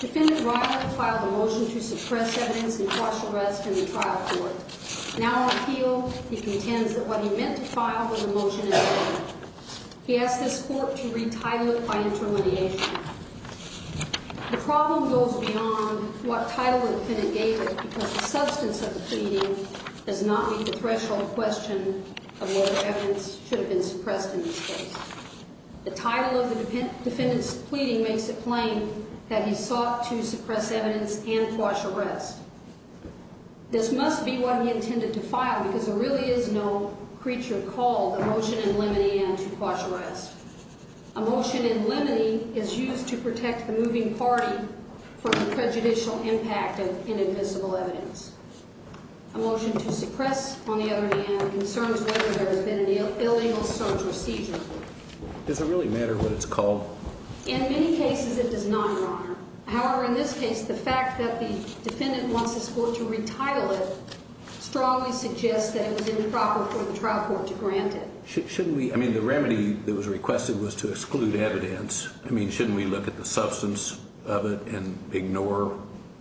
Defendant Riley filed a motion to suppress evidence in partial arrest in the trial court. In our appeal, he contends that what he meant to file was a motion in vain. He asked this court to retitle it by intermediation. The problem goes beyond what title the defendant gave it because the substance of the pleading does not meet the threshold question of whether evidence should have been suppressed in this case. The title of the defendant's pleading makes it plain that he sought to suppress evidence and partial arrest. This must be what he intended to file because there really is no creature called a motion in limine and to partial arrest. A motion in limine is used to protect the moving party from the prejudicial impact of inadmissible evidence. A motion to suppress, on the other hand, concerns whether there has been an illegal search or seizure. Does it really matter what it's called? In many cases, it does not, Your Honor. However, in this case, the fact that the defendant wants this court to retitle it strongly suggests that it was improper for the trial court to grant it. Shouldn't we, I mean, the remedy that was requested was to exclude evidence. I mean, shouldn't we look at the substance of it and ignore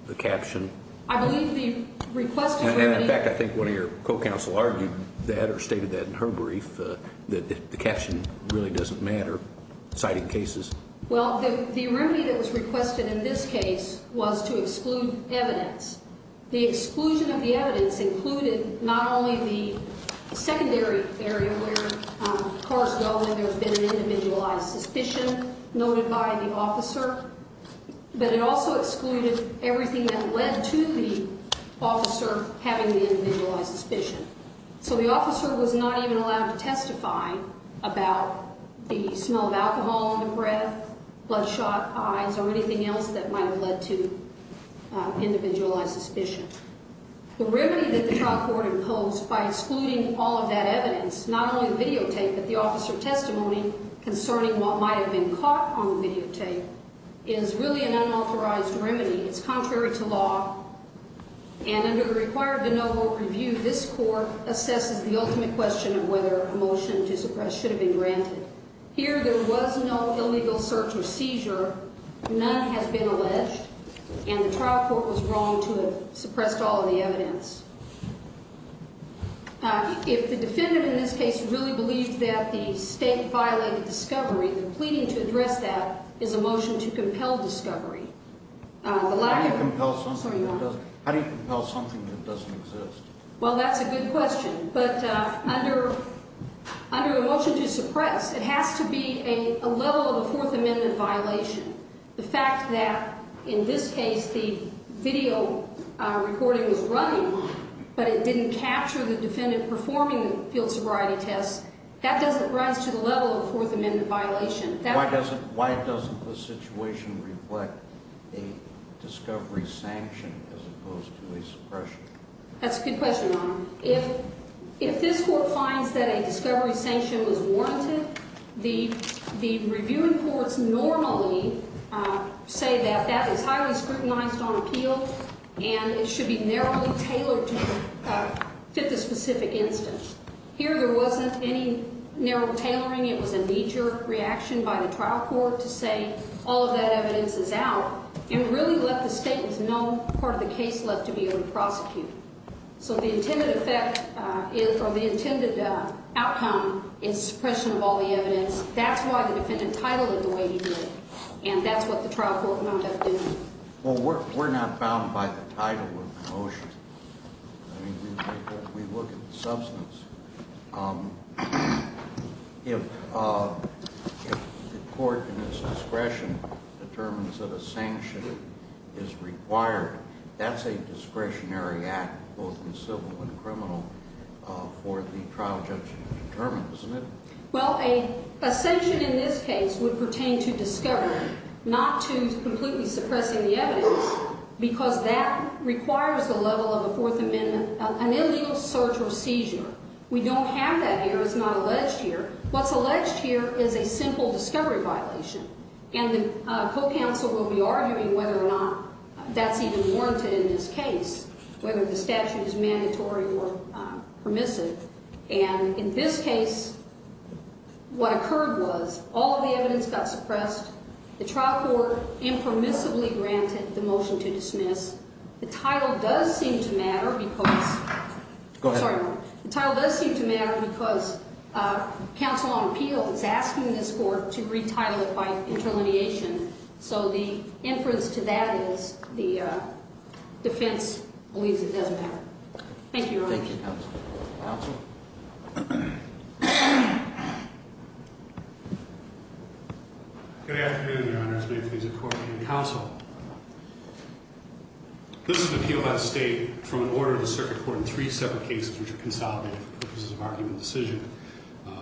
the caption? I believe the requested remedy. In fact, I think one of your co-counsel argued that or stated that in her brief that the caption really doesn't matter citing cases. Well, the remedy that was requested in this case was to exclude evidence. The exclusion of the evidence included not only the secondary area where, of course, we all know there's been an individualized suspicion noted by the officer, but it also excluded everything that led to the officer having the individualized suspicion. So the officer was not even allowed to testify about the smell of alcohol in the breath, bloodshot eyes, or anything else that might have led to individualized suspicion. The remedy that the trial court imposed by excluding all of that evidence, not only videotape, but the officer testimony concerning what might have been caught on the videotape is really an unauthorized remedy. It's contrary to law, and under the required de novo review, this court assesses the ultimate question of whether a motion to suppress should have been granted. Here, there was no illegal search or seizure. None has been alleged, and the trial court was wrong to have suppressed all of the evidence. If the defendant in this case really believes that the state violated discovery, and they're pleading to address that, is a motion to compel discovery. How do you compel something that doesn't exist? Well, that's a good question. But under a motion to suppress, it has to be a level of a Fourth Amendment violation. The fact that in this case the video recording was running, but it didn't capture the defendant performing the field sobriety test, that doesn't rise to the level of a Fourth Amendment violation. Why doesn't the situation reflect a discovery sanction as opposed to a suppression? That's a good question, Your Honor. If this court finds that a discovery sanction was warranted, the reviewing courts normally say that that is highly scrutinized on appeal, and it should be narrowly tailored to fit the specific instance. Here there wasn't any narrow tailoring. It was a knee-jerk reaction by the trial court to say all of that evidence is out, and really left the state with no part of the case left to be able to prosecute. So the intended effect or the intended outcome is suppression of all the evidence. That's why the defendant titled it the way he did, and that's what the trial court wound up doing. Well, we're not bound by the title of the motion. I mean, we look at the substance. If the court in its discretion determines that a sanction is required, that's a discretionary act both in civil and criminal for the trial judge to determine, isn't it? Well, a sanction in this case would pertain to discovery, not to completely suppressing the evidence because that requires the level of a Fourth Amendment, an illegal search or seizure. We don't have that here. It's not alleged here. What's alleged here is a simple discovery violation, and the co-counsel will be arguing whether or not that's even warranted in this case, whether the statute is mandatory or permissive. And in this case, what occurred was all the evidence got suppressed. The trial court impermissibly granted the motion to dismiss. The title does seem to matter because counsel on appeal is asking this court to retitle it by interlineation. So the inference to that is the defense believes it doesn't matter. Thank you, Your Honor. Thank you, counsel. Counsel? Good afternoon, Your Honor. As many of these are court and counsel. This is an appeal by the state from an order of the circuit court in three separate cases, which are consolidated for purposes of argument and decision,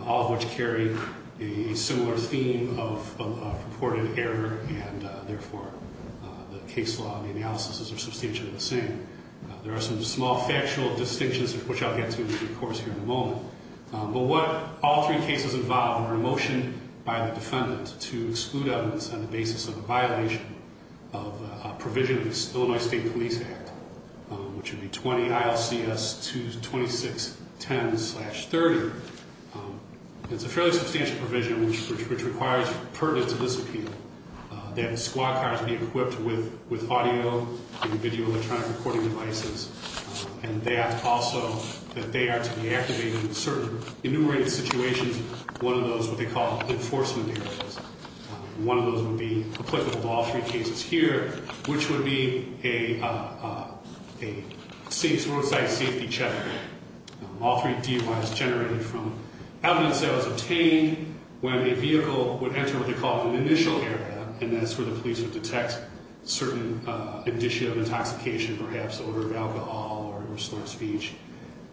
all of which carry a similar theme of purported error, and, therefore, the case law and the analysis are substantially the same. There are some small factual distinctions, which I'll get to, of course, here in a moment. But what all three cases involve are a motion by the defendant to exclude evidence on the basis of a violation of a provision of the Illinois State Police Act, which would be 20 ILCS 22610-30. It's a fairly substantial provision, which requires pertinent to this appeal, that squad cars be equipped with audio and video electronic recording devices, and that also that they are to be activated in certain enumerated situations, one of those what they call enforcement areas. One of those would be applicable to all three cases here, which would be a roadside safety check. All three DUIs generated from evidence that was obtained when a vehicle would enter what they call an initial area, and that's where the police would detect certain indicia of intoxication, perhaps odor of alcohol or an illicit speech.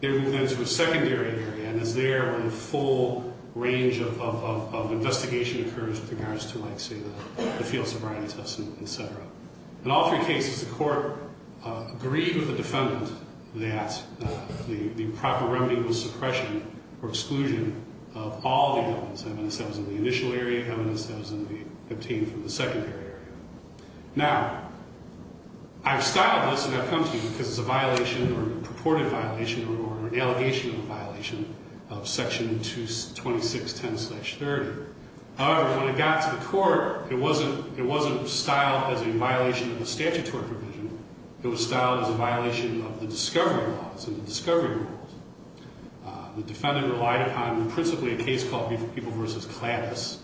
There is a secondary area, and it's there when a full range of investigation occurs with regards to, like, say, the field sobriety test and et cetera. In all three cases, the court agreed with the defendant that the proper remedy was suppression or exclusion of all the evidence. Evidence that was in the initial area, evidence that was obtained from the secondary area. Now, I've styled this, and I've come to you because it's a violation or a purported violation or an allegation of a violation of Section 22610-30. However, when it got to the court, it wasn't styled as a violation of the statutory provision. It was styled as a violation of the discovery laws and the discovery rules. The defendant relied upon principally a case called Beeple v. Kladdis.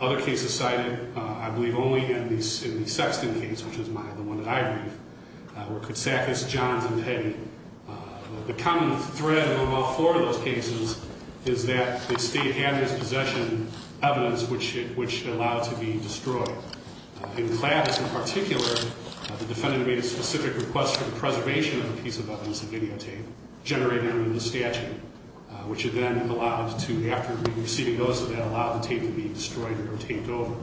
Other cases cited, I believe only in the Sexton case, which is the one that I brief, were Katsakis, Johns, and Petty. The common thread of all four of those cases is that the state had in its possession evidence which allowed to be destroyed. In Kladdis in particular, the defendant made a specific request for the preservation of a piece of evidence, a videotape, generated under the statute, which it then allowed to, after receiving those, it allowed the tape to be destroyed or taped over.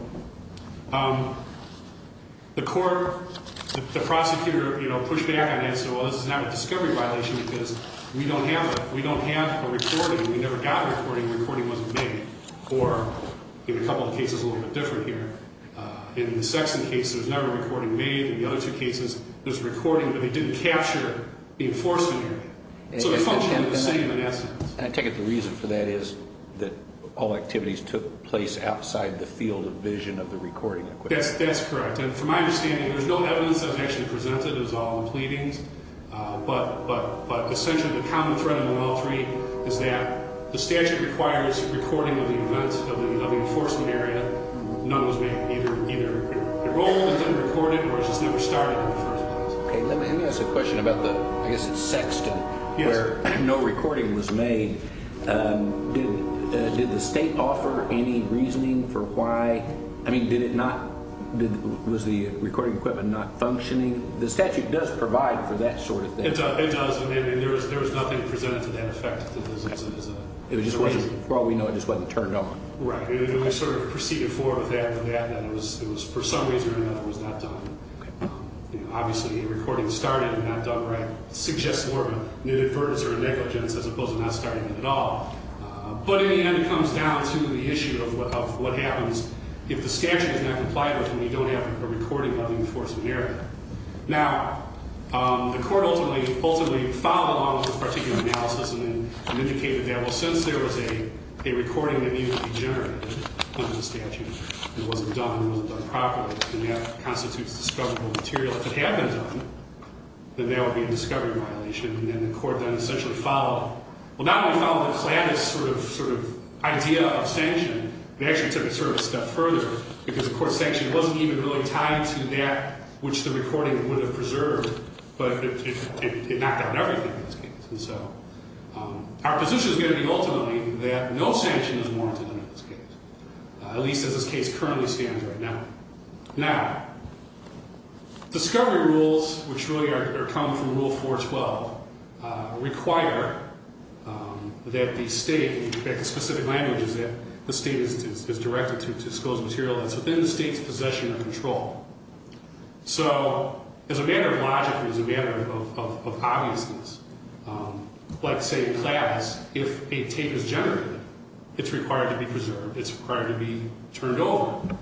The court, the prosecutor, you know, pushed back on that and said, well, this is not a discovery violation because we don't have a recording. We never got a recording. The recording wasn't made. Or in a couple of cases a little bit different here, in the Sexton case, there was never a recording made. In the other two cases, there's a recording, but they didn't capture the enforcement. So they functioned the same in essence. And I take it the reason for that is that all activities took place outside the field of vision of the recording. That's correct. And from my understanding, there's no evidence that was actually presented. It was all in pleadings. But essentially the common thread in all three is that the statute requires recording of the events of the enforcement area. None was made. Either the role was unrecorded or it just never started in the first place. Let me ask a question about the, I guess it's Sexton, where no recording was made. Did the state offer any reasoning for why? I mean, did it not? Was the recording equipment not functioning? The statute does provide for that sort of thing. It does. I mean, there was nothing presented to that effect. It just wasn't, for all we know, it just wasn't turned on. Right. And we sort of proceeded forward with that and it was, for some reason or another, it was not done. Obviously, a recording started and not done right suggests more of an inadvertence or a negligence as opposed to not starting it at all. But in the end, it comes down to the issue of what happens if the statute is not complied with and we don't have a recording of the enforcement area. Now, the court ultimately followed along with this particular analysis and indicated that, well, since there was a recording that needed to be recorded under the statute and it wasn't done, it wasn't done properly, and that constitutes discoverable material, if it had been done, then that would be a discovery violation. And then the court then essentially followed, well, not only followed Atlantis' sort of idea of sanction, it actually took it sort of a step further because, of course, sanction wasn't even really tied to that which the recording would have preserved, but it knocked down everything in this case. And so our position is going to be ultimately that no sanction is warranted under this case, at least as this case currently stands right now. Now, discovery rules, which really come from Rule 412, require that the state, in fact, the specific language is that the state is directed to disclose material that's within the state's possession or control. So as a matter of logic and as a matter of obviousness, let's say class, if a tape is generated, it's required to be preserved. It's required to be turned over.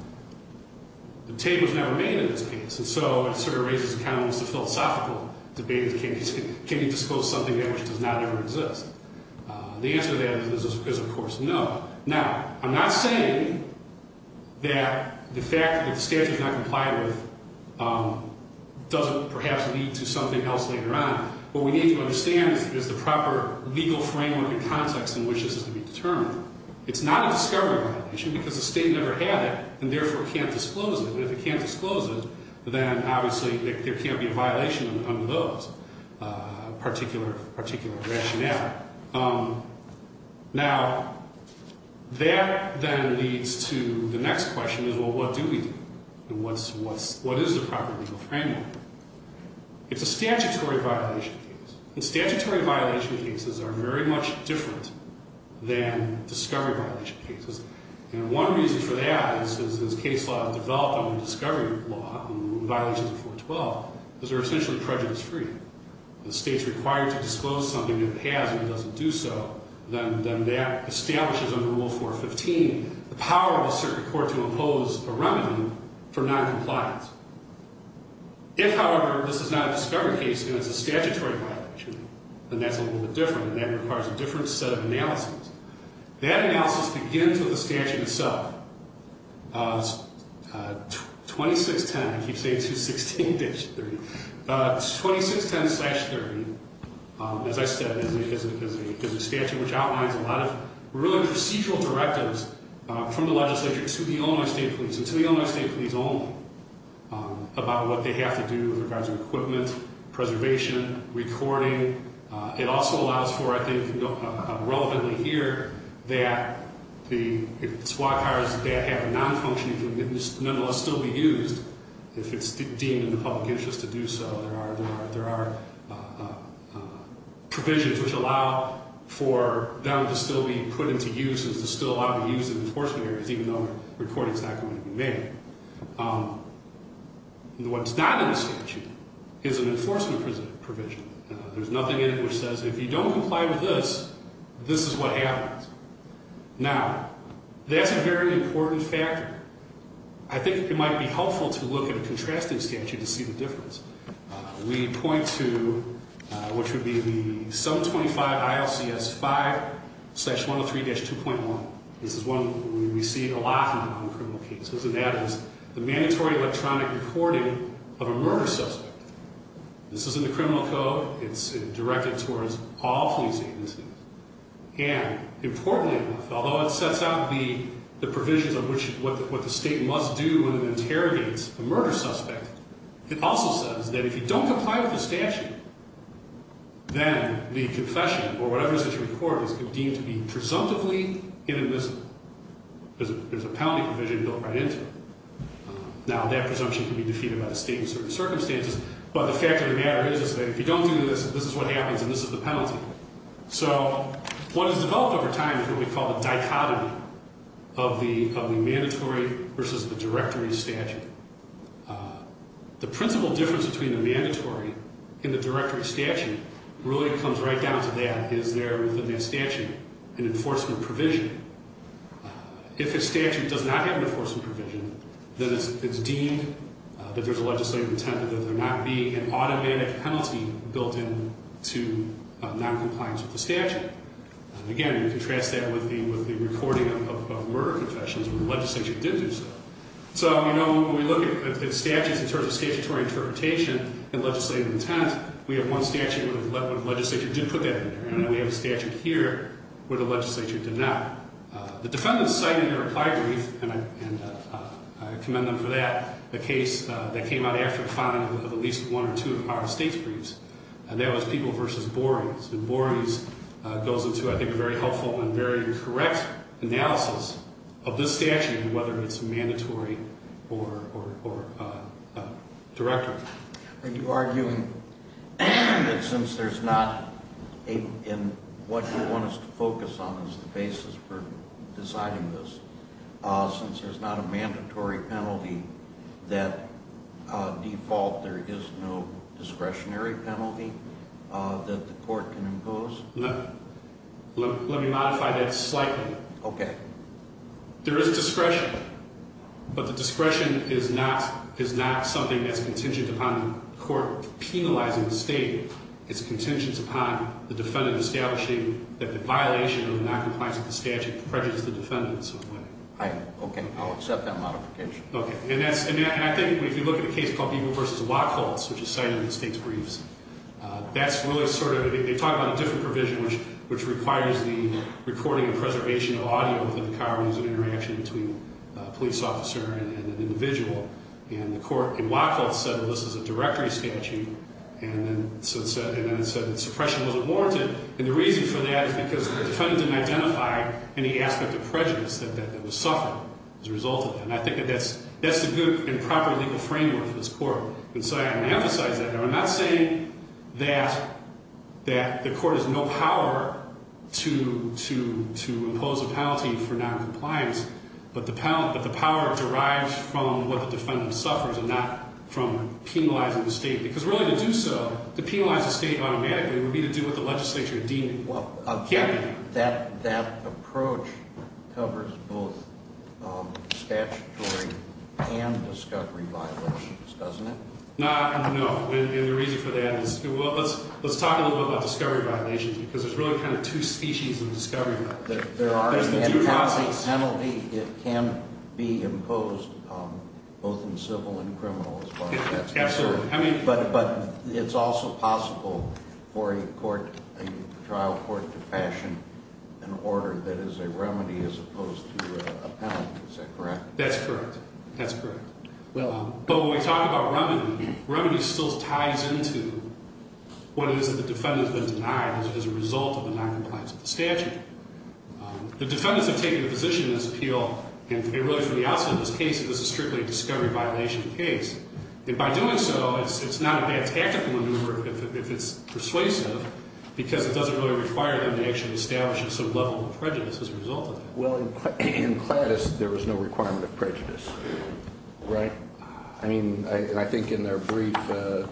The tape was never made in this case, and so it sort of raises a kind of philosophical debate, can you disclose something that which does not ever exist? The answer to that is, of course, no. Now, I'm not saying that the fact that the statute is not complied with doesn't perhaps lead to something else later on. What we need to understand is the proper legal framework and context in which this is to be determined. It's not a discovery violation because the state never had it and therefore can't disclose it. And if it can't disclose it, then obviously there can't be a violation under those particular rationale. Now, that then leads to the next question is, well, what do we do? And what is the proper legal framework? It's a statutory violation case. And statutory violation cases are very much different than discovery violation cases. And one reason for that is, as case law has developed under discovery law and violations of 412, is they're essentially prejudice free. If the state's required to disclose something it has and it doesn't do so, then that establishes under Rule 415 the power of a circuit court to impose a remedy for noncompliance. If, however, this is not a discovery case and it's a statutory violation, then that's a little bit different and that requires a different set of analysis. That analysis begins with the statute itself. 2610, I keep saying 216-30. 2610-30, as I said, is a statute which outlines a lot of really procedural directives from the legislature to the Illinois State Police and to the Illinois State Police only about what they have to do with regards to equipment, preservation, recording. It also allows for, I think, relevantly here, that the SWAT cars that have nonfunctioning can nonetheless still be used if it's deemed in the public interest to do so. There are provisions which allow for them to still be put into use and there are provisions that still ought to be used in enforcement areas even though the recording is not going to be made. What's not in the statute is an enforcement provision. There's nothing in it which says if you don't comply with this, this is what happens. Now, that's a very important factor. I think it might be helpful to look at a contrasting statute to see the difference. We point to what should be the 725 ILCS 5-103-2.1. This is one we see a lot in noncriminal cases, and that is the mandatory electronic recording of a murder suspect. This is in the criminal code. It's directed towards all police agencies. And importantly, although it sets out the provisions of what the state must do when it interrogates a murder suspect, it also says that if you don't comply with the statute, then the confession or whatever is in court is deemed to be presumptively inadmissible. There's a penalty provision built right into it. Now, that presumption can be defeated by the state in certain circumstances, but the fact of the matter is that if you don't do this, this is what happens, and this is the penalty. So what has developed over time is what we call the dichotomy of the mandatory versus the directory statute. The principal difference between the mandatory and the directory statute really comes right down to that. Is there within that statute an enforcement provision? If a statute does not have an enforcement provision, then it's deemed that there's a legislative intent that there not be an automatic penalty built into noncompliance with the statute. Again, you contrast that with the recording of murder confessions where the legislature did do so. So, you know, when we look at statutes in terms of statutory interpretation and legislative intent, we have one statute where the legislature did put that in there, and we have a statute here where the legislature did not. The defendant's cited in their reply brief, and I commend them for that, the case that came out after the filing of at least one or two of our state's briefs, and that was people versus Borey's. And Borey's goes into, I think, a very helpful and very correct analysis of this statute and whether it's mandatory or directory. Are you arguing that since there's not a, and what you want us to focus on is the basis for deciding this, since there's not a mandatory penalty that default, there is no discretionary penalty that the court can impose? Let me modify that slightly. Okay. There is discretion, but the discretion is not something that's contingent upon the court penalizing the state. It's contingent upon the defendant establishing that the violation of the noncompliance of the statute prejudices the defendant in some way. Okay. I'll accept that modification. Okay. And that's, and I think if you look at a case called Eagle versus Wachholz, which is cited in the state's briefs, that's really sort of, they talk about a different provision, which requires the recording and preservation of audio within the car when there's an interaction between a police officer and an individual. And the court in Wachholz said, well, this is a directory statute. And then it said that suppression wasn't warranted. And the reason for that is because the defendant didn't identify any aspect of prejudice that was suffered as a result of that. And I think that that's the good and proper legal framework for this court. And so I want to emphasize that. Now, I'm not saying that the court has no power to impose a penalty for noncompliance, but the power derives from what the defendant suffers and not from penalizing the state. Because really to do so, to penalize the state automatically would be to do what the legislature deemed. Well, that approach covers both statutory and discovery violations, doesn't it? No. And the reason for that is, well, let's talk a little bit about discovery violations because there's really kind of two species of discovery. There are. There's the due process. And the penalty, it can be imposed both in civil and criminal as far as that's concerned. Absolutely. But it's also possible for a court, a trial court to fashion an order that is a remedy as opposed to a penalty. Is that correct? That's correct. That's correct. But when we talk about remedy, remedy still ties into what it is that the defendant has been denied as a result of the noncompliance of the statute. The defendants have taken a position in this appeal, and really for the outset of this case, this is strictly a discovery violation case. And by doing so, it's not a bad tactical maneuver if it's persuasive because it doesn't really require them to actually establish a sort of level of prejudice as a result of it. Well, in Cladis, there was no requirement of prejudice. Right? I mean, and I think in their brief, the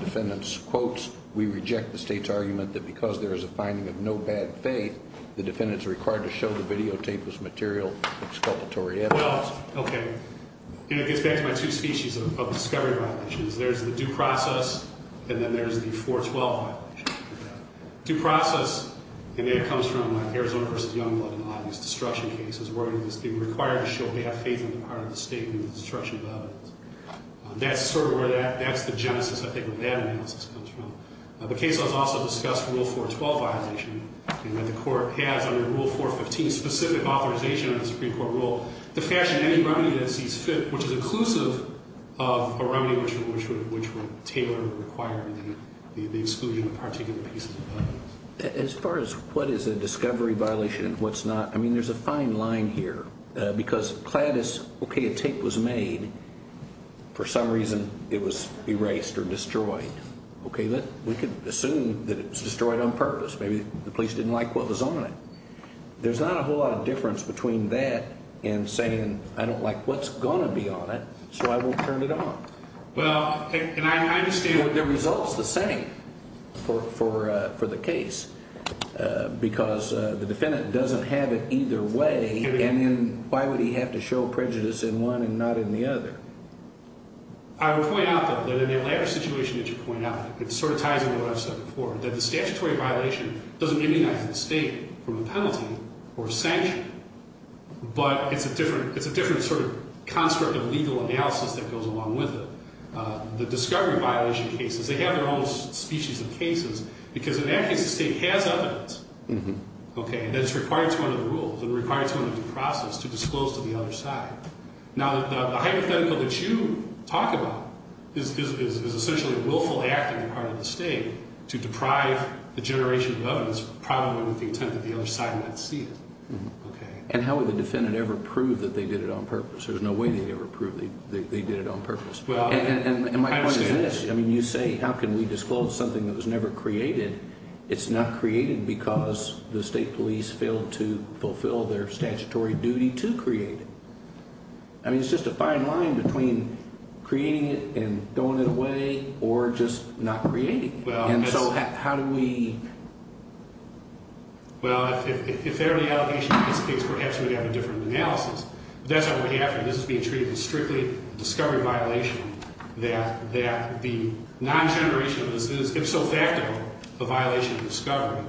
defendant's quotes, we reject the state's argument that because there is a finding of no bad faith, the defendant is required to show the videotape as material exculpatory evidence. Well, okay. And it gets back to my two species of discovery violations. There's the due process, and then there's the 412 violation. Due process, and that comes from Arizona v. Youngblood, an obvious destruction case. They were required to show they have faith in the power of the state in the destruction of evidence. That's sort of where that's the genesis, I think, of where that analysis comes from. The case has also discussed Rule 412 violation. And the court has, under Rule 415, specific authorization under the Supreme Court rule to fashion any remedy that sees fit, which is inclusive of a remedy, which would tailor or require the exclusion of a particular piece of evidence. As far as what is a discovery violation and what's not, I mean, there's a fine line here. Because Cladis, okay, a tape was made. For some reason, it was erased or destroyed. Okay, we could assume that it was destroyed on purpose. Maybe the police didn't like what was on it. There's not a whole lot of difference between that and saying, I don't like what's going to be on it, so I won't turn it off. Well, and I understand the results the same for the case, because the defendant doesn't have it either way. And then why would he have to show prejudice in one and not in the other? I would point out, though, that in that latter situation that you point out, it sort of ties into what I've said before, that the statutory violation doesn't immunize the state from a penalty or a sanction, but it's a different sort of construct of legal analysis that goes along with it. The discovery violation cases, they have their own species of cases, because in that case the state has evidence, okay, that it's required to honor the rules and required to honor the process to disclose to the other side. Now, the hypothetical that you talk about is essentially a willful act on the part of the state to deprive the generation above us probably with the intent that the other side might see it. And how would the defendant ever prove that they did it on purpose? There's no way they'd ever prove they did it on purpose. And my point is this. I mean, you say, how can we disclose something that was never created? It's not created because the state police failed to fulfill their statutory duty to create it. I mean, it's just a fine line between creating it and throwing it away or just not creating it. And so how do we? Well, if there are any allegations in this case, perhaps we'd have a different analysis. That's what we're after. This is being treated as strictly a discovery violation that the non-generation of this is, if so factible, a violation of discovery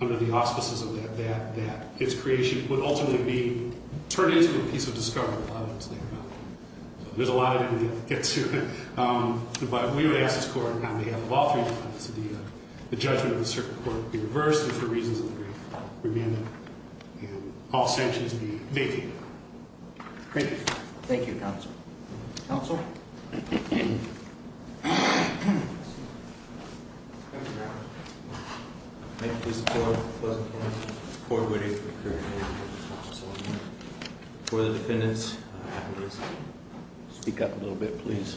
under the auspices of that, that its creation would ultimately be turned into a piece of discovery. There's a lot of it we could get to. But we would ask this court on behalf of all three defendants that the judgment of the circuit court be reversed and for reasons of the brief remain that and all sanctions be vacated. Thank you. Thank you, counsel. Counsel? May it please the court, the closing panel, the court waiting for the current hearing. Counsel Solomon. Before the defendants, if I could just speak up a little bit, please.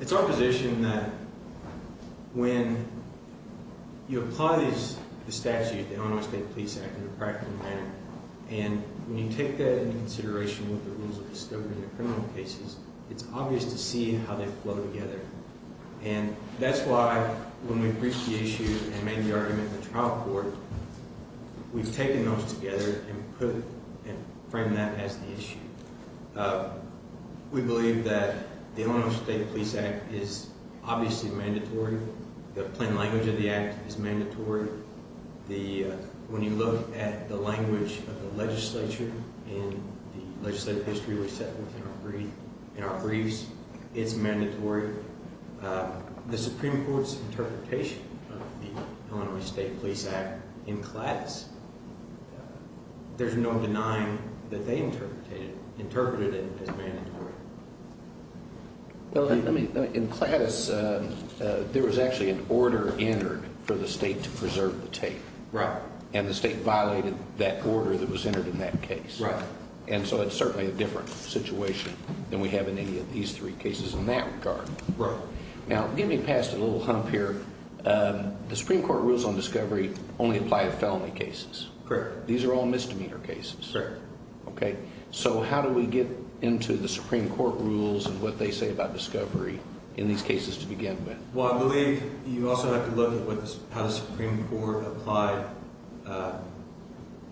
It's our position that when you apply the statute, the Illinois State Police Act, in a practical manner, and when you take that into consideration with the rules of discovery in the criminal cases, it's obvious to see how they flow together. And that's why when we breached the issue and made the argument in the trial court, we've taken those together and put and framed that as the issue. We believe that the Illinois State Police Act is obviously mandatory. The plain language of the act is mandatory. When you look at the language of the legislature and the legislative history we set within our briefs, it's mandatory. The Supreme Court's interpretation of the Illinois State Police Act in class, there's no denying that they interpreted it as mandatory. In class, there was actually an order entered for the state to preserve the tape. Right. And the state violated that order that was entered in that case. Right. And so it's certainly a different situation than we have in any of these three cases in that regard. Right. Now, getting past a little hump here, the Supreme Court rules on discovery only apply to felony cases. Correct. These are all misdemeanor cases. Correct. Okay. So how do we get into the Supreme Court rules and what they say about discovery in these cases to begin with? Well, I believe you also have to look at how the Supreme Court applied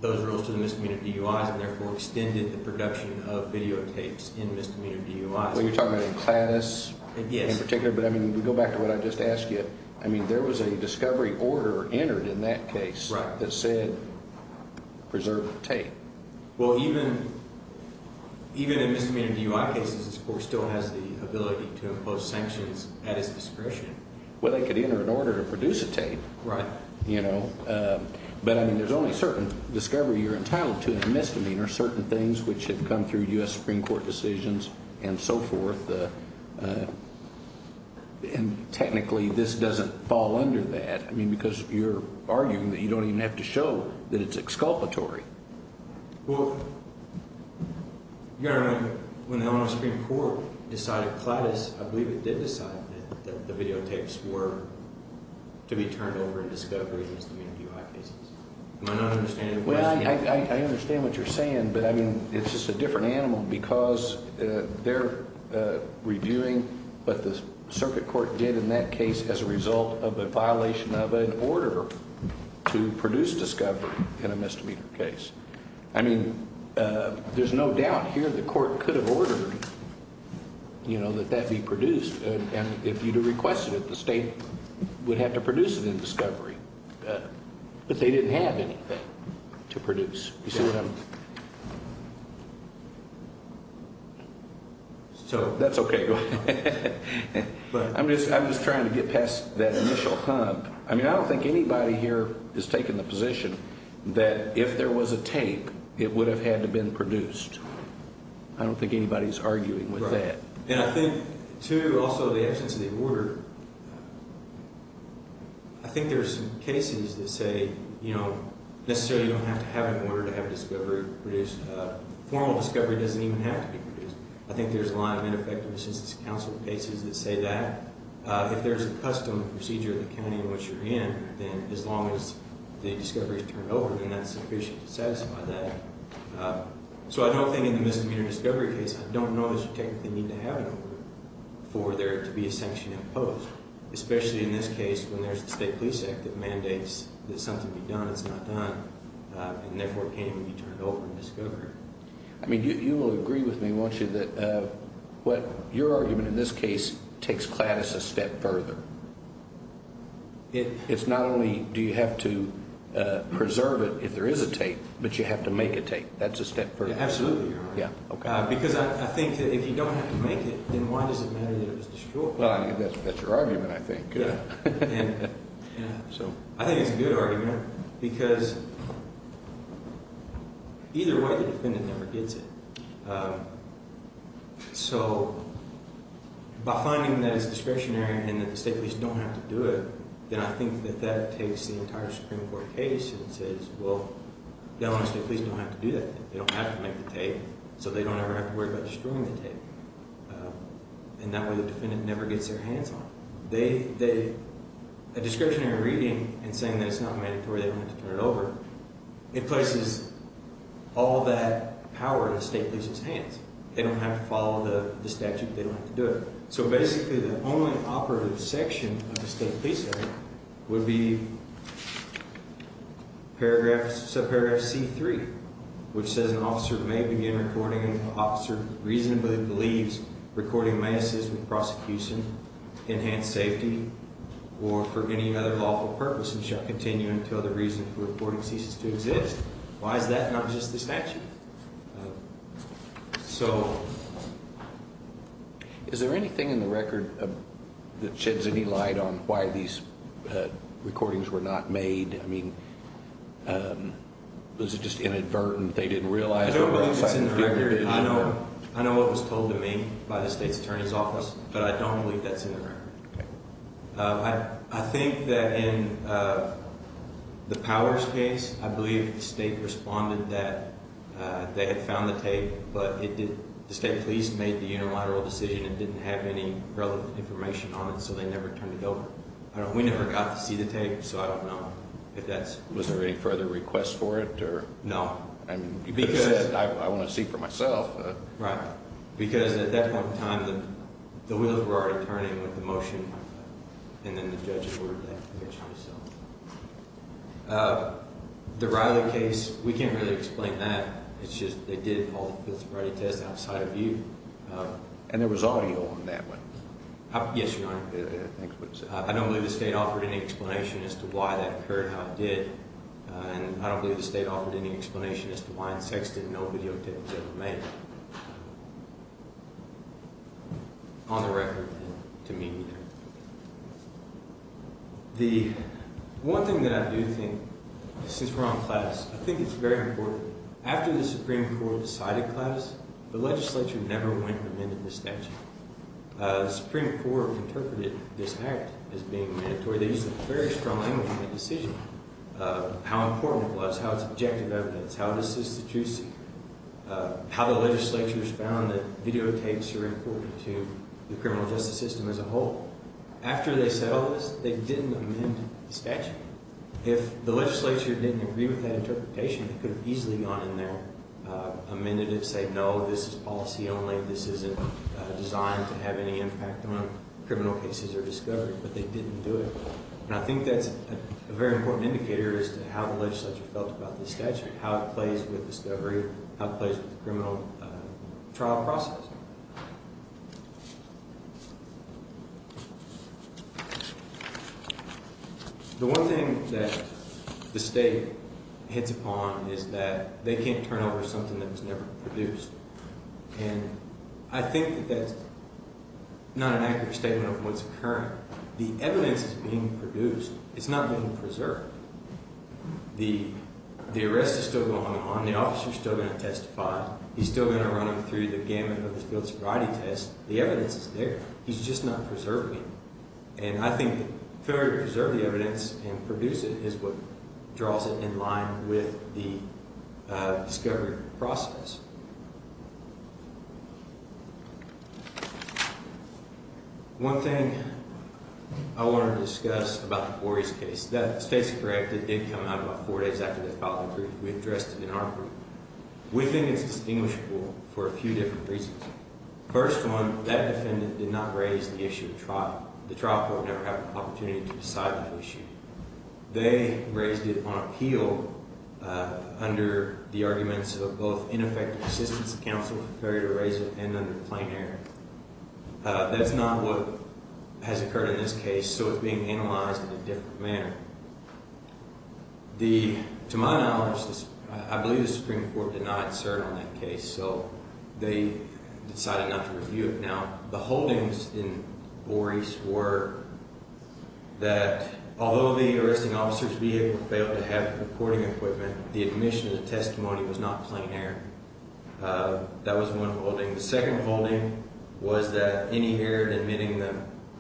those rules to the misdemeanor DUIs and therefore extended the production of videotapes in misdemeanor DUIs. Well, you're talking about in class in particular. Yes. But, I mean, we go back to what I just asked you. I mean, there was a discovery order entered in that case that said preserve the tape. Well, even in misdemeanor DUI cases, this court still has the ability to impose sanctions at its discretion. Well, they could enter an order to produce a tape. Right. But, I mean, there's only certain discovery you're entitled to in a misdemeanor, and there are certain things which have come through U.S. Supreme Court decisions and so forth, and technically this doesn't fall under that. I mean, because you're arguing that you don't even have to show that it's exculpatory. Well, you've got to remember when the Ohio Supreme Court decided, I believe it did decide that the videotapes were to be turned over in discovery in misdemeanor DUI cases. Am I not understanding the question? I understand what you're saying, but, I mean, it's just a different animal because they're reviewing what the circuit court did in that case as a result of a violation of an order to produce discovery in a misdemeanor case. I mean, there's no doubt here the court could have ordered, you know, that that be produced, and if you'd have requested it, the state would have to produce it in discovery. But they didn't have anything to produce. You see what I mean? So that's okay. I'm just trying to get past that initial hump. I mean, I don't think anybody here is taking the position that if there was a tape, it would have had to been produced. I don't think anybody's arguing with that. Right. I think there are some cases that say, you know, necessarily you don't have to have an order to have discovery produced. Formal discovery doesn't even have to be produced. I think there's a lot of ineffective assistance to counsel cases that say that. If there's a custom procedure of the county in which you're in, then as long as the discovery is turned over, then that's sufficient to satisfy that. So I don't think in the misdemeanor discovery case, I don't know that you technically need to have an order for there to be a sanction imposed, especially in this case when there's the State Police Act that mandates that something be done that's not done, and therefore it can't even be turned over in discovery. I mean, you will agree with me, won't you, that what your argument in this case takes CLADIS a step further. It's not only do you have to preserve it if there is a tape, but you have to make a tape. That's a step further. Absolutely, Your Honor. Yeah, okay. Because I think if you don't have to make it, then why does it matter that it was destroyed? Well, that's your argument, I think. I think it's a good argument because either way, the defendant never gets it. So by finding that it's discretionary and that the state police don't have to do it, then I think that that takes the entire Supreme Court case and says, well, the Illinois State Police don't have to do that. They don't have to make the tape, so they don't ever have to worry about destroying the tape. And that way the defendant never gets their hands on it. A discretionary reading and saying that it's not mandatory, they don't have to turn it over, it places all that power in the state police's hands. They don't have to follow the statute. They don't have to do it. So basically the only operative section of the state police area would be subparagraph C-3, which says an officer may begin recording an officer reasonably believes recording may assist with prosecution, enhance safety, or for any other lawful purpose and shall continue until the reason for recording ceases to exist. Why is that not just the statute? So is there anything in the record that sheds any light on why these recordings were not made? I mean, was it just inadvertent, they didn't realize? I don't believe it's in the record. I know what was told to me by the state's attorney's office, but I don't believe that's in the record. Okay. I think that in the Powers case, I believe the state responded that they had found the tape, but the state police made the unilateral decision and didn't have any relevant information on it, so they never turned it over. We never got to see the tape, so I don't know. Was there any further requests for it? No. Because I want to see it for myself. Right. Because at that point in time, the wheels were already turning with the motion, and then the judge ordered that. The Riley case, we can't really explain that. It's just they did all the physicality tests outside of you. And there was audio on that one? Yes, Your Honor. I don't believe the state offered any explanation as to why that occurred how it did, and I don't believe the state offered any explanation as to why in Sexton no video tape was ever made. On the record, to me, neither. The one thing that I do think, since we're on class, I think it's very important. After the Supreme Court decided class, the legislature never went and amended the statute. The Supreme Court interpreted this act as being mandatory. They used a very strong language in that decision. How important it was, how it's objective evidence, how it assists the truth seeker, how the legislature has found that videotapes are important to the criminal justice system as a whole. After they settled this, they didn't amend the statute. If the legislature didn't agree with that interpretation, it could have easily gone in there, amended it, and say, no, this is policy only, this isn't designed to have any impact on criminal cases or discovery. But they didn't do it. And I think that's a very important indicator as to how the legislature felt about this statute, how it plays with discovery, how it plays with the criminal trial process. The one thing that the state hits upon is that they can't turn over something that was never produced. And I think that that's not an accurate statement of what's occurring. The evidence is being produced. It's not being preserved. The arrest is still going on. The officer is still going to testify. He's still going to run him through the gamut of the field sobriety test. The evidence is there. He's just not preserving it. And I think failure to preserve the evidence and produce it is what draws it in line with the discovery process. One thing I want to discuss about the Borey's case. That state's correct. It did come out about four days after they filed the brief. We addressed it in our group. We think it's distinguishable for a few different reasons. First one, that defendant did not raise the issue of trial. The trial court never had the opportunity to decide that issue. They raised it on appeal under the arguments of both ineffective assistance of counsel, the failure to raise it, and under the plain error. That's not what has occurred in this case, so it's being analyzed in a different manner. To my knowledge, I believe the Supreme Court denied cert on that case, so they decided not to review it. Now, the holdings in Borey's were that although the arresting officer's vehicle failed to have recording equipment, the admission of the testimony was not plain error. That was one holding. The second holding was that any error in admitting the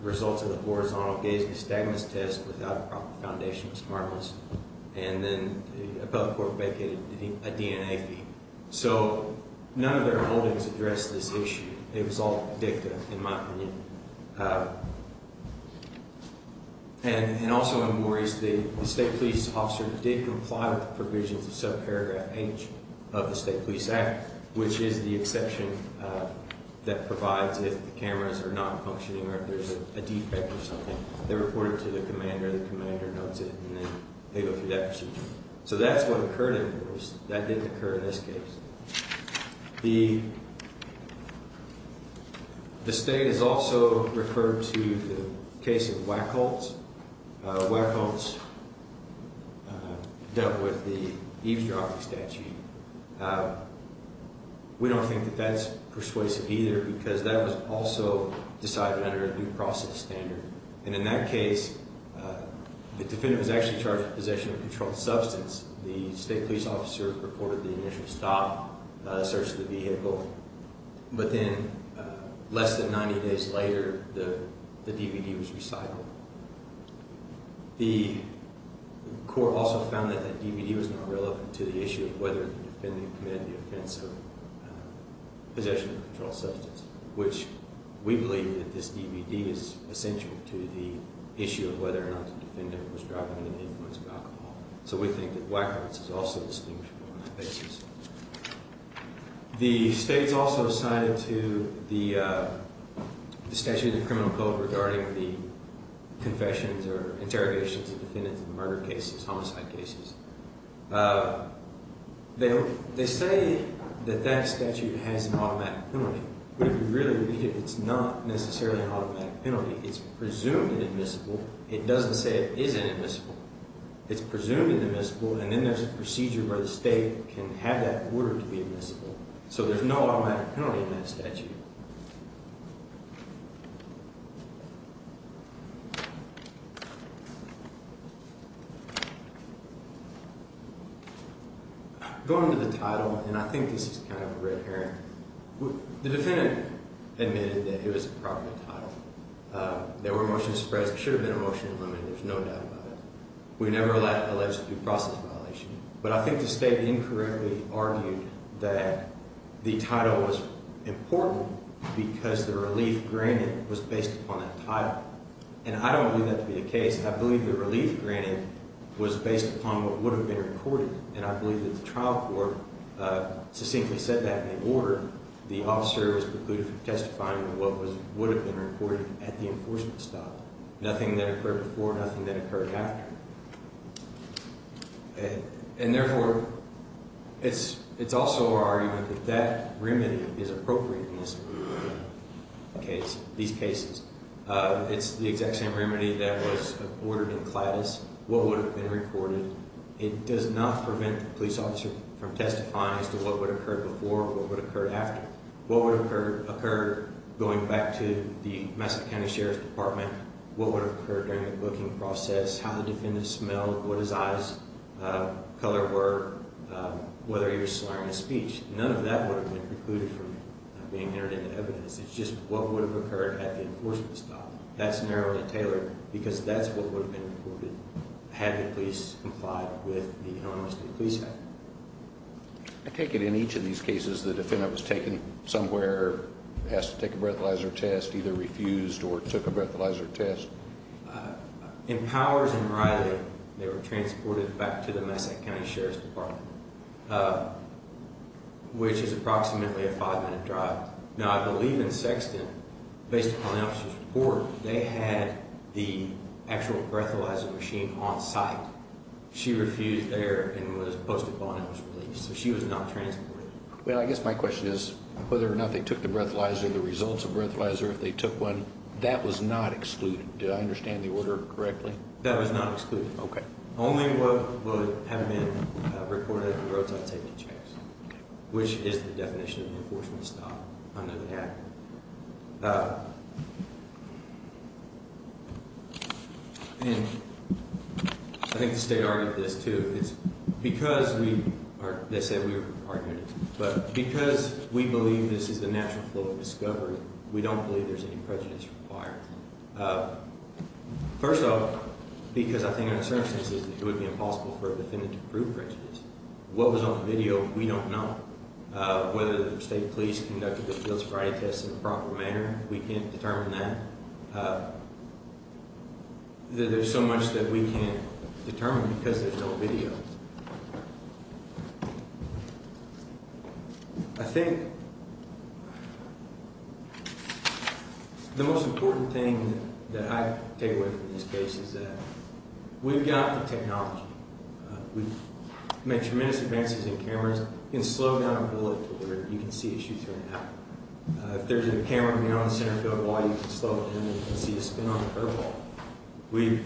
results of the horizontal gaze-by-stagnance test without a proper foundation was harmless, and then the appellate court vacated a DNA feed. So none of their holdings addressed this issue. It was all dicta, in my opinion. And also in Borey's, the state police officer did comply with the provisions of subparagraph H of the State Police Act, which is the exception that provides if the cameras are not functioning or if there's a defect or something. They report it to the commander, the commander notes it, and then they go through that procedure. So that's what occurred in Borey's. That didn't occur in this case. The state is also referred to the case of Wachholz. Wachholz dealt with the eavesdropping statute. We don't think that that's persuasive either because that was also decided under a due process standard. And in that case, the defendant was actually charged with possession of a controlled substance. The state police officer reported the initial stop, the search of the vehicle. But then less than 90 days later, the DVD was recycled. The court also found that that DVD was not relevant to the issue of whether the defendant committed the offense of possession of a controlled substance, which we believe that this DVD is essential to the issue of whether or not the defendant was driving under the influence of alcohol. So we think that Wachholz is also distinguishable on that basis. The state's also cited to the statute of the criminal code regarding the confessions or interrogations of defendants of murder cases, homicide cases. They say that that statute has an automatic penalty. But if you really read it, it's not necessarily an automatic penalty. It's presumed inadmissible. It doesn't say it isn't admissible. It's presumed inadmissible. And then there's a procedure where the state can have that ordered to be admissible. So there's no automatic penalty in that statute. Going to the title, and I think this is kind of a red herring, the defendant admitted that it was a proper title. There were motion to suppress. There should have been a motion to limit. There's no doubt about it. We've never alleged due process violation. But I think the state incorrectly argued that the title was important because the relief granted was based upon that title. And I don't believe that to be the case. I believe the relief granted was based upon what would have been recorded, and I believe that the trial court succinctly said that in the order. The officer is precluded from testifying on what would have been recorded at the enforcement stop. Nothing that occurred before, nothing that occurred after. And therefore, it's also our argument that that remedy is appropriate in this case, these cases. It's the exact same remedy that was ordered in Cladis, what would have been recorded. It does not prevent the police officer from testifying as to what would have occurred before or what would have occurred after. What would have occurred going back to the Massachusetts County Sheriff's Department, what would have occurred during the booking process, how the defendant smelled, what his eyes color were, whether he was slurring his speech. None of that would have been precluded from being entered into evidence. It's just what would have occurred at the enforcement stop. That's narrowly tailored, because that's what would have been recorded had the police complied with the Enormous Police Act. I take it in each of these cases, the defendant was taken somewhere, has to take a breathalyzer test, either refused or took a breathalyzer test. In Powers and Riley, they were transported back to the Massachusetts County Sheriff's Department, which is approximately a five-minute drive. Now, I believe in Sexton, based upon the officer's report, they had the actual breathalyzer machine on site. She refused there and was posted upon it was released, so she was not transported. Well, I guess my question is, whether or not they took the breathalyzer, the results of the breathalyzer, if they took one, that was not excluded. Did I understand the order correctly? That was not excluded. Okay. Only what would have been recorded at the roadside safety checks, which is the definition of the enforcement stop. I know that. And I think the state argued this, too. It's because we, or they said we were part of it, but because we believe this is the natural flow of discovery, we don't believe there's any prejudice required. First of all, because I think our circumstance is that it would be impossible for a defendant to prove prejudice. What was on the video, we don't know. Whether the state police conducted the field sobriety tests in a proper manner, we can't determine that. There's so much that we can't determine because there's no video. I think the most important thing that I take away from this case is that we've got the technology. We've made tremendous advances in cameras. You can slow down a bullet to where you can see a shoot turn out. If there's a camera near on the center field wall, you can slow it down and see a spin on the curveball. We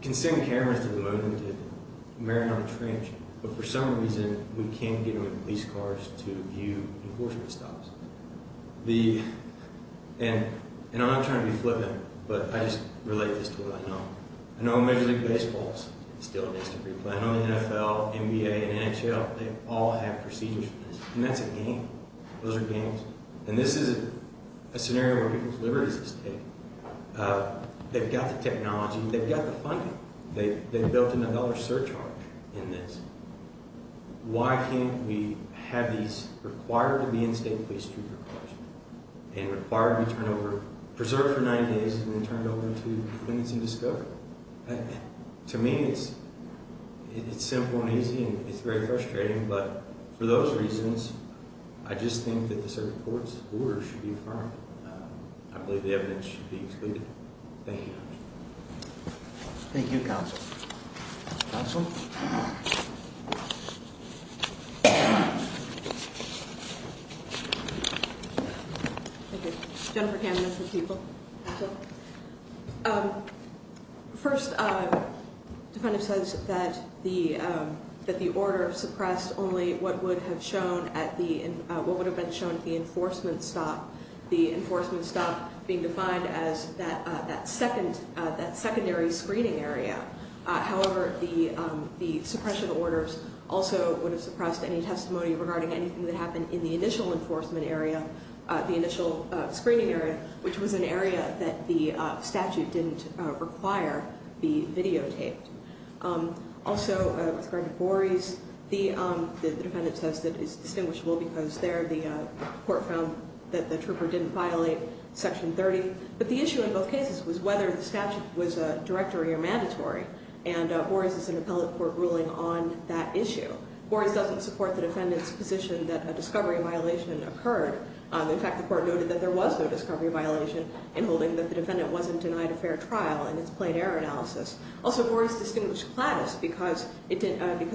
can send cameras to the moon and to Mariana Trench, but for some reason, we can't get them in police cars to view enforcement stops. And I'm not trying to be flippant, but I just relate this to what I know. I know Major League Baseball still needs to replant on the NFL, NBA, and NHL. They all have procedures for this, and that's a game. Those are games. And this is a scenario where people's liberties are at stake. They've got the technology. They've got the funding. They've built a dollar surcharge in this. Why can't we have these required-to-be-in-state-police-treatment procedures? And required to be turned over, preserved for 90 days, and then turned over to defendants in discovery? To me, it's simple and easy, and it's very frustrating, but for those reasons, I just think that the circuit court's order should be affirmed. I believe the evidence should be excluded. Thank you. Thank you, Counsel. Counsel? Thank you. Jennifer Camden for the people. First, the defendant says that the order suppressed only what would have been shown at the enforcement stop, the enforcement stop being defined as that secondary screening area. However, the suppression orders also would have suppressed any testimony regarding anything that happened in the initial enforcement area, the initial screening area, which was an area that the statute didn't require be videotaped. Also, with regard to Bores, the defendant says that it's distinguishable because there the court found that the trooper didn't violate Section 30, but the issue in both cases was whether the statute was a directory or mandatory, and Bores is an appellate court ruling on that issue. Bores doesn't support the defendant's position that a discovery violation occurred. In fact, the court noted that there was no discovery violation in holding that the defendant wasn't denied a fair trial in its plain error analysis. Also, Bores distinguished Claddis because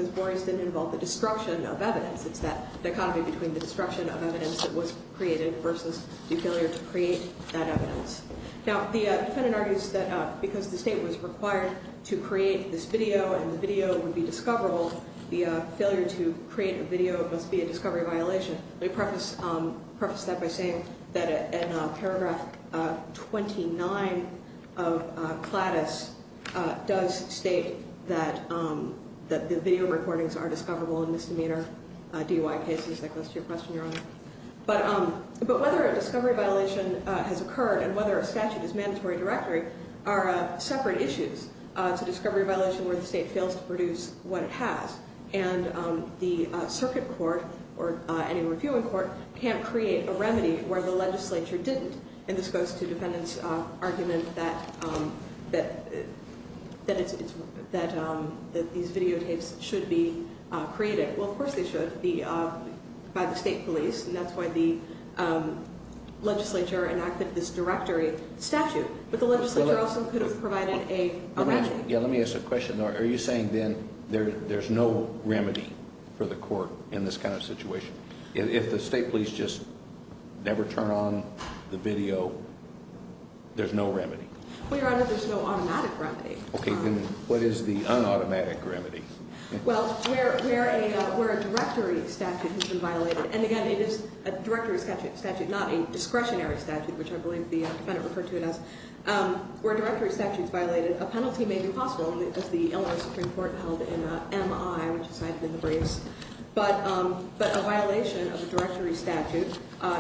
Bores didn't involve the destruction of evidence. It's that dichotomy between the destruction of evidence that was created versus the failure to create that evidence. Now, the defendant argues that because the state was required to create this video and the video would be discoverable, the failure to create a video must be a discovery violation. Let me preface that by saying that in Paragraph 29 of Claddis does state that the video recordings are discoverable in misdemeanor DUI cases. That goes to your question, Your Honor. But whether a discovery violation has occurred and whether a statute is mandatory directory are separate issues. It's a discovery violation where the state fails to produce what it has, and the circuit court or any reviewing court can't create a remedy where the legislature didn't. And this goes to the defendant's argument that these videotapes should be created. Well, of course they should be by the state police. And that's why the legislature enacted this directory statute. But the legislature also could have provided a remedy. Yeah, let me ask a question. Are you saying then there's no remedy for the court in this kind of situation? If the state police just never turn on the video, there's no remedy? Well, Your Honor, there's no automatic remedy. Okay, then what is the unautomatic remedy? Well, where a directory statute has been violated. And, again, it is a directory statute, not a discretionary statute, which I believe the defendant referred to it as. Where a directory statute is violated, a penalty may be possible. That's the Illinois Supreme Court held in MI, which is high up in the briefs. But a violation of a directory statute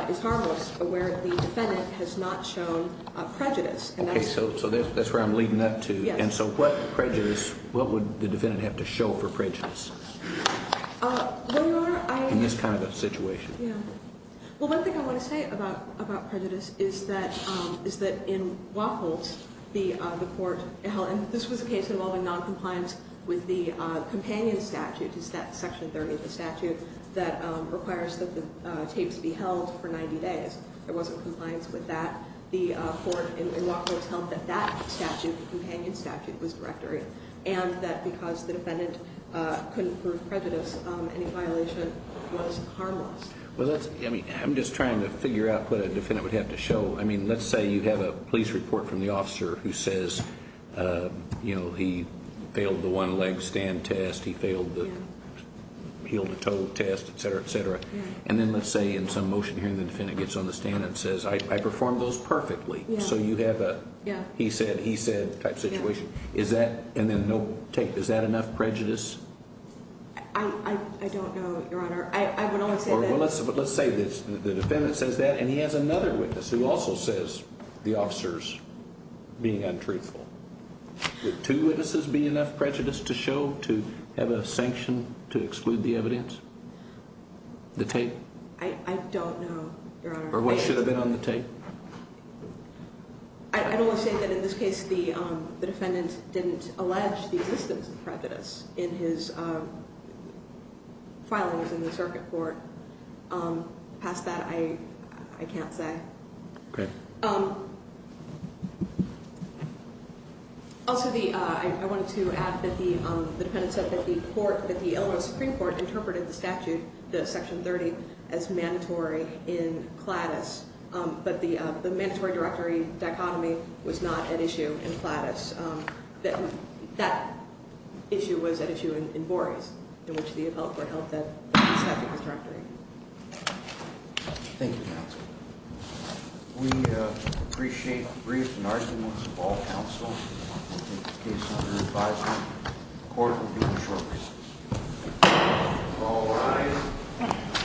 is harmless where the defendant has not shown prejudice. Okay, so that's where I'm leading up to. And so what prejudice, what would the defendant have to show for prejudice in this kind of a situation? Well, one thing I want to say about prejudice is that in Wacholz, the court held, and this was a case involving noncompliance with the companion statute, section 30 of the statute that requires that the tapes be held for 90 days. There wasn't compliance with that. The court in Wacholz held that that statute, the companion statute, was directory. And that because the defendant couldn't prove prejudice, any violation was harmless. Well, that's, I mean, I'm just trying to figure out what a defendant would have to show. I mean, let's say you have a police report from the officer who says, you know, he failed the one-leg stand test, he failed the heel-to-toe test, et cetera, et cetera. And then let's say in some motion hearing the defendant gets on the stand and says, I performed those perfectly. So you have a he said, he said type situation. Is that, and then no tape, is that enough prejudice? I don't know, Your Honor. I would only say that. Well, let's say the defendant says that and he has another witness who also says the officer's being untruthful. Would two witnesses be enough prejudice to show to have a sanction to exclude the evidence? The tape? I don't know, Your Honor. Or what should have been on the tape? I would only say that in this case the defendant didn't allege the existence of prejudice in his filings in the circuit court. Past that, I can't say. Okay. Also the, I wanted to add that the defendant said that the court, that the Illinois Supreme Court interpreted the statute, the Section 30, as mandatory in CLADIS. But the mandatory directory dichotomy was not at issue in CLADIS. That issue was at issue in Boris, in which the developer held that the statute was directory. Thank you, counsel. We appreciate the brief and arduous of all counsel. We'll take the case under advisement. The court will be in short recess. All rise.